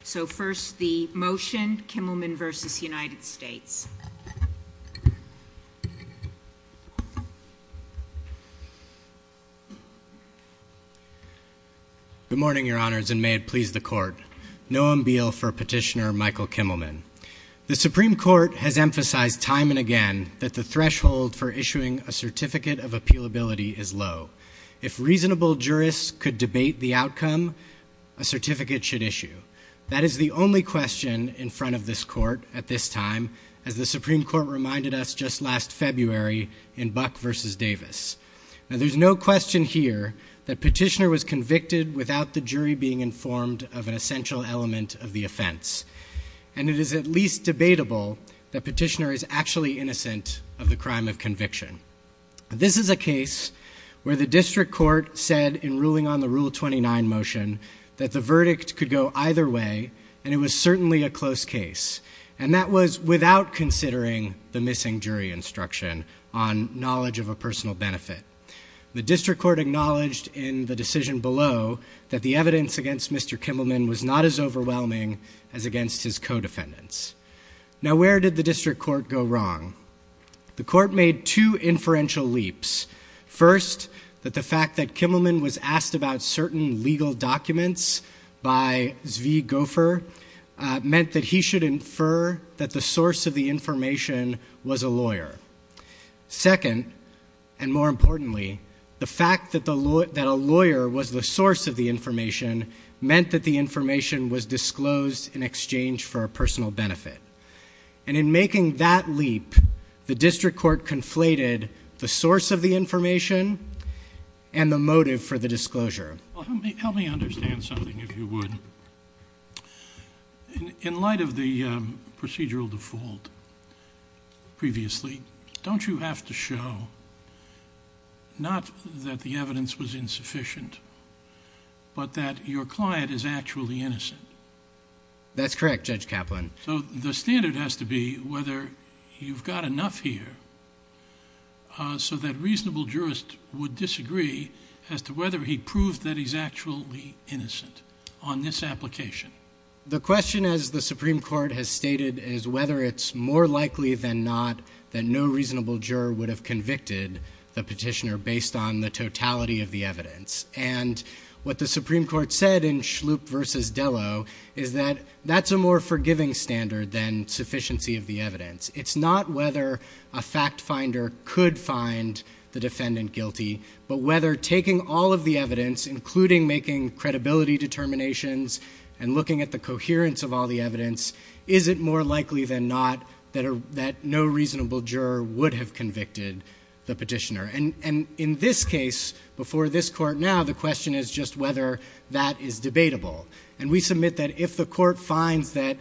Good morning, your honors, and may it please the court. Noam Beale for Petitioner Michael Kimelman. The Supreme Court has emphasized time and again that the threshold for issuing a certificate of appealability is low. If reasonable jurists could debate the outcome, a certificate should issue. That is the only question in front of this court at this time, as the Supreme Court reminded us just last February in Buck v. Davis. Now there's no question here that Petitioner was convicted without the jury being informed of an essential element of the offense. And it is at least debatable that Petitioner is actually innocent of the crime of conviction. This is a case where the district court said in ruling on the Rule 29 motion that the verdict could go either way, and it was certainly a close case. And that was without considering the missing jury instruction on knowledge of a personal benefit. The district court acknowledged in the decision below that the evidence against Mr. Kimelman was not as overwhelming as against his co-defendants. Now where did the district court go wrong? The court made two inferential leaps. First, that the fact that Kimelman was asked about certain legal documents by Zvi Gofer meant that he should infer that the source of the information was a lawyer. Second, and more importantly, the fact that a lawyer was the source of the information meant that the information was disclosed in exchange for a personal benefit. And in making that leap, the district court conflated the source of the information and the motive for the disclosure. Well, help me understand something, if you would. In light of the procedural default previously, don't you have to show not that the evidence was insufficient, but that your client is actually innocent? That's correct, Judge Kaplan. So the standard has to be whether you've got enough here so that reasonable jurists would disagree as to whether he proved that he's actually innocent on this application. The question, as the Supreme Court has stated, is whether it's more likely than not that no reasonable juror would have convicted the petitioner based on the totality of the evidence. And what the Supreme Court said in Schlup versus Dello is that that's a more forgiving standard than sufficiency of the evidence. It's not whether a fact finder could find the defendant guilty, but whether taking all of the evidence, including making credibility determinations and looking at the coherence of all the evidence, is it more likely than not that no reasonable juror would have convicted the petitioner. And in this case, before this court now, the question is just whether that is debatable. And we submit that if the court finds that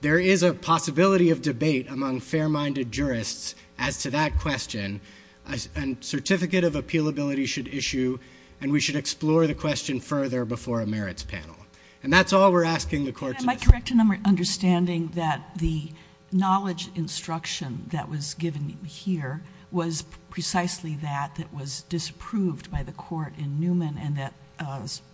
there is a possibility of debate among fair-minded jurists as to that question, a certificate of appealability should issue, and we should explore the question further before a merits panel. And that's all we're asking the court to decide. Am I correct in understanding that the knowledge instruction that was given here was precisely that that was disapproved by the court in Newman and that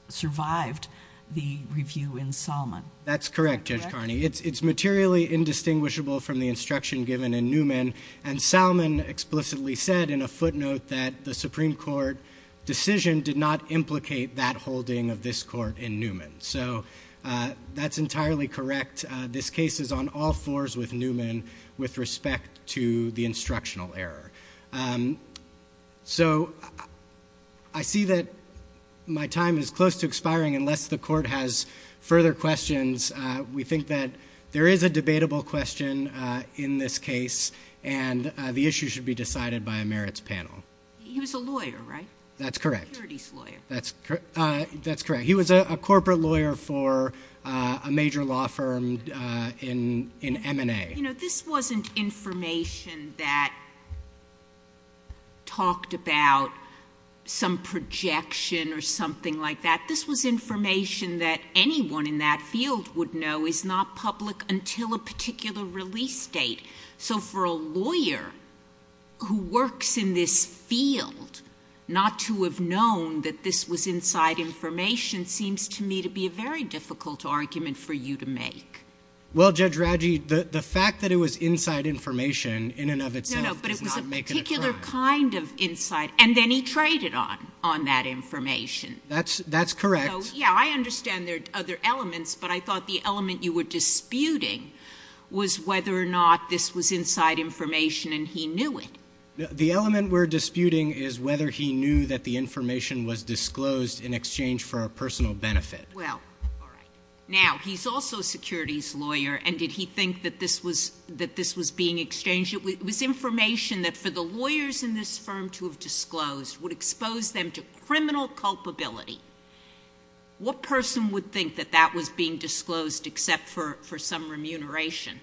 survived the review in Salmon? That's correct, Judge Carney. It's materially indistinguishable from the instruction given in Newman, and Salmon explicitly said in a footnote that the Supreme Court decision did not implicate that holding of this court in Newman. So that's entirely correct. This case is on all fours with Newman with respect to the instructional error. So I see that my time is close to expiring unless the court has further questions. We think that there is a debatable question in this case, and the issue should be decided by a merits panel. He was a lawyer, right? That's correct. A securities lawyer. That's correct. He was a corporate lawyer for a major law firm in M&A. You know, this wasn't information that talked about some projection or something like that. This was information that anyone in that field would know is not public until a particular release date. So for a lawyer who works in this field not to have known that this was inside information seems to me to be a very difficult argument for you to make. Well, Judge Raggi, the fact that it was inside information in and of itself does not make it a crime. No, no, but it was a particular kind of inside, and then he traded on that information. That's correct. So, yeah, I understand there are other elements, but I thought the element you were disputing was whether or not this was inside information and he knew it. The element we're disputing is whether he knew that the information was disclosed in exchange for a personal benefit. Well, all right. Now, he's also a securities lawyer, and did he think that this was being exchanged? It was information that for the lawyers in this firm to have disclosed would expose them to criminal culpability. What person would think that that was being disclosed except for some remuneration?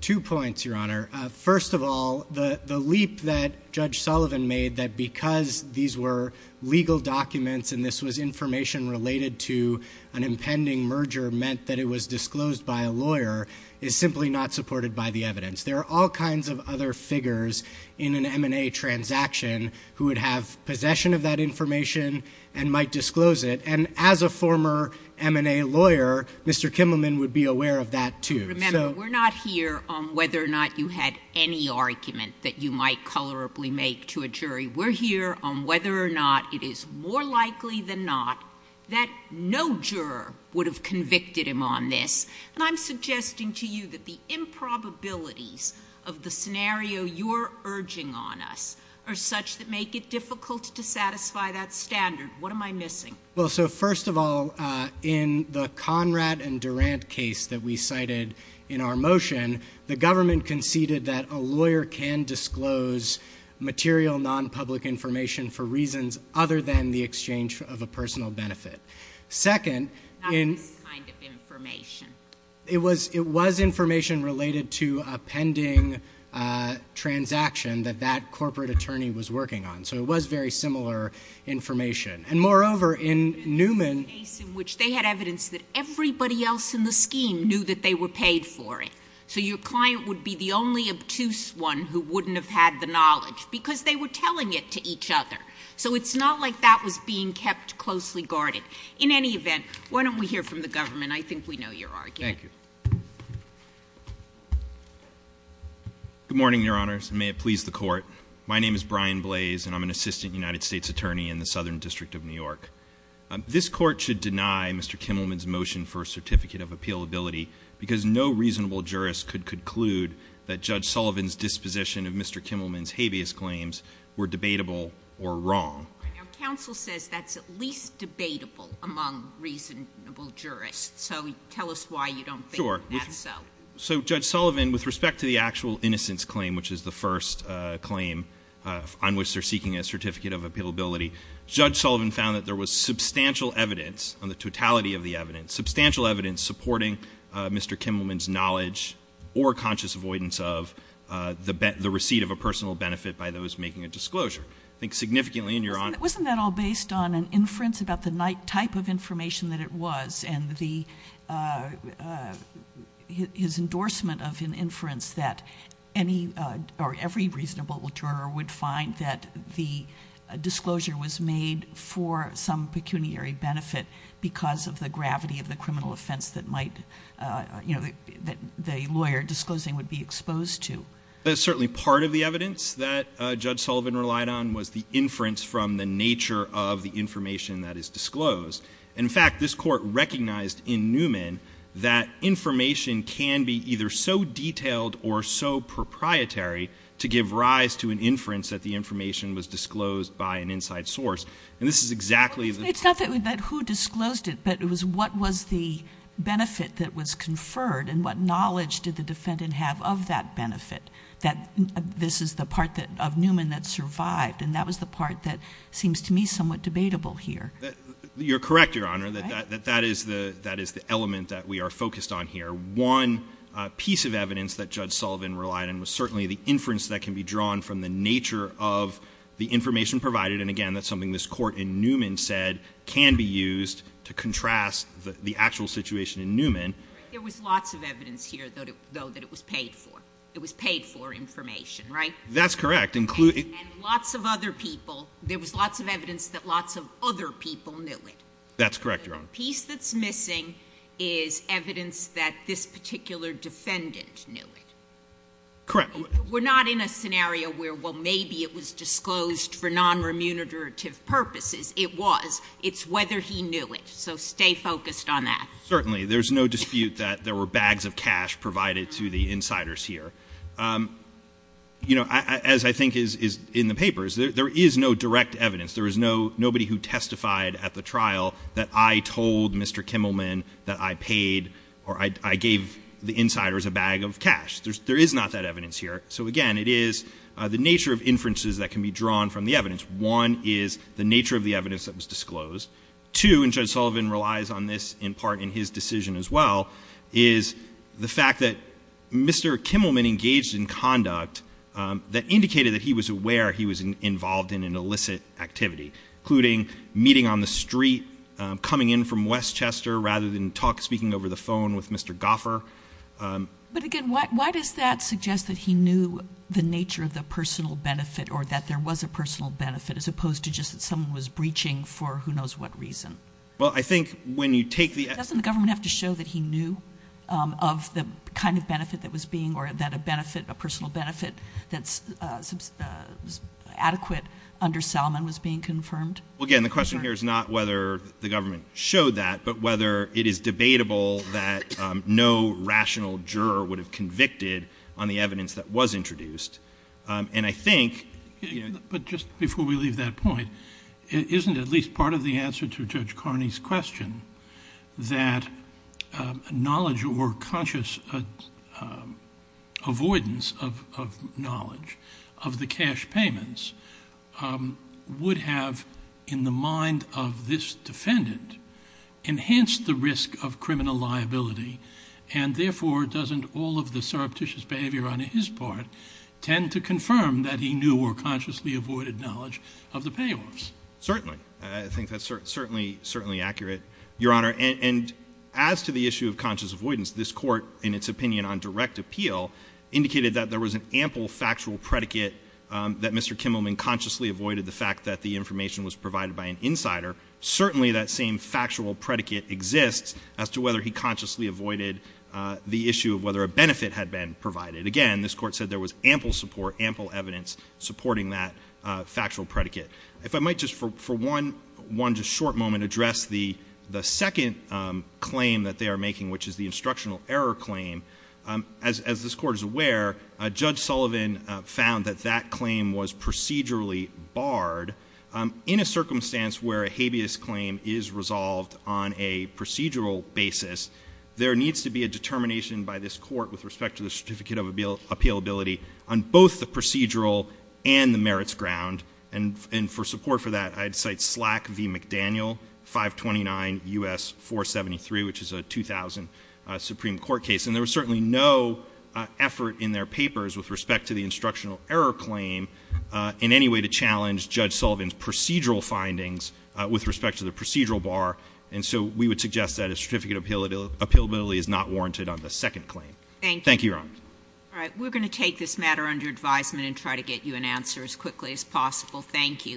Two points, Your Honor. First of all, the leap that Judge Sullivan made that because these were legal documents and this was information related to an impending merger meant that it was disclosed by a lawyer is simply not supported by the evidence. There are all kinds of other figures in an M&A transaction who would have possession of that information and might disclose it, and as a former M&A lawyer, Mr. Kimmelman would be aware of that, too. Remember, we're not here on whether or not you had any argument that you might colorably make to a jury. We're here on whether or not it is more likely than not that no juror would have convicted him on this, and I'm suggesting to you that the improbabilities of the scenario you're urging on us are such that make it difficult to satisfy that standard. What am I missing? Well, so first of all, in the Conrad and Durant case that we cited in our motion, the government conceded that a lawyer can disclose material nonpublic information for reasons other than the exchange of a personal benefit. That was this kind of information. It was information related to a pending transaction that that corporate attorney was working on, so it was very similar information. And moreover, in Newman... In the case in which they had evidence that everybody else in the scheme knew that they were paid for it, so your client would be the only obtuse one who wouldn't have had the knowledge because they were telling it to each other. So it's not like that was being kept closely guarded. In any event, why don't we hear from the government? I think we know your argument. Thank you. Good morning, Your Honors, and may it please the Court. My name is Brian Blaze, and I'm an assistant United States attorney in the Southern District of New York. This Court should deny Mr. Kimmelman's motion for a certificate of appealability because no reasonable jurist could conclude that Judge Sullivan's disposition of Mr. Kimmelman's habeas claims were debatable or wrong. Our counsel says that's at least debatable among reasonable jurists, so tell us why you don't think that's so. So, Judge Sullivan, with respect to the actual innocence claim, which is the first claim on which they're seeking a certificate of appealability, Judge Sullivan found that there was substantial evidence on the totality of the evidence, substantial evidence supporting Mr. Kimmelman's knowledge or conscious avoidance of the receipt of a personal benefit by those making a disclosure. I think significantly in your honor... Wasn't that all based on an inference about the type of information that it was and his endorsement of an inference that every reasonable juror would find that the disclosure was made for some pecuniary benefit because of the gravity of the criminal offense that the lawyer disclosing would be exposed to? Certainly part of the evidence that Judge Sullivan relied on was the inference from the nature of the information that is disclosed. In fact, this court recognized in Newman that information can be either so detailed or so proprietary to give rise to an inference that the information was disclosed by an inside source. And this is exactly... It's not that who disclosed it, but it was what was the benefit that was conferred and what knowledge did the defendant have of that benefit, that this is the part of Newman that survived. And that was the part that seems to me somewhat debatable here. You're correct, your honor, that that is the element that we are focused on here. One piece of evidence that Judge Sullivan relied on was certainly the inference that can be drawn from the nature of the information provided. And again, that's something this court in Newman said can be used to contrast the actual situation in Newman. There was lots of evidence here, though, that it was paid for. It was paid for information, right? That's correct. And lots of other people. There was lots of evidence that lots of other people knew it. That's correct, your honor. The piece that's missing is evidence that this particular defendant knew it. Correct. We're not in a scenario where, well, maybe it was disclosed for non-remunerative purposes. It was. It's whether he knew it. So stay focused on that. Certainly. There's no dispute that there were bags of cash provided to the insiders here. You know, as I think is in the papers, there is no direct evidence. There is nobody who testified at the trial that I told Mr. Kimmelman that I paid or I gave the insiders a bag of cash. There is not that evidence here. So, again, it is the nature of inferences that can be drawn from the evidence. One is the nature of the evidence that was disclosed. Two, and Judge Sullivan relies on this in part in his decision as well, is the fact that Mr. Kimmelman engaged in conduct that indicated that he was aware he was involved in an illicit activity, including meeting on the street, coming in from Westchester rather than speaking over the phone with Mr. Goffer. But, again, why does that suggest that he knew the nature of the personal benefit or that there was a personal benefit as opposed to just that someone was breaching for who knows what reason? Well, I think when you take the – Doesn't the government have to show that he knew of the kind of benefit that was being – or that a benefit, a personal benefit that's adequate under Salmon was being confirmed? Well, again, the question here is not whether the government showed that, but whether it is debatable that no rational juror would have convicted on the evidence that was introduced. And I think – But just before we leave that point, isn't at least part of the answer to Judge Carney's question that knowledge or conscious avoidance of knowledge of the cash payments would have, in the mind of this defendant, enhanced the risk of criminal liability and, therefore, doesn't all of the surreptitious behavior on his part tend to confirm that he knew or consciously avoided knowledge of the payoffs? Certainly. I think that's certainly accurate, Your Honor. And as to the issue of conscious avoidance, this Court, in its opinion on direct appeal, indicated that there was an ample factual predicate that Mr. Kimmelman consciously avoided the fact that the information was provided by an insider. Certainly that same factual predicate exists as to whether he consciously avoided the issue of whether a benefit had been provided. Again, this Court said there was ample support, ample evidence supporting that factual predicate. If I might just, for one just short moment, address the second claim that they are making, which is the instructional error claim. As this Court is aware, Judge Sullivan found that that claim was procedurally barred In a circumstance where a habeas claim is resolved on a procedural basis, there needs to be a determination by this Court with respect to the certificate of appealability on both the procedural and the merits ground. And for support for that, I'd cite SLAC v. McDaniel, 529 U.S. 473, which is a 2000 Supreme Court case. And there was certainly no effort in their papers with respect to the instructional error claim in any way to challenge Judge Sullivan's procedural findings with respect to the procedural bar. And so we would suggest that a certificate of appealability is not warranted on the second claim. Thank you, Your Honor. All right. We're going to take this matter under advisement and try to get you an answer as quickly as possible. Thank you.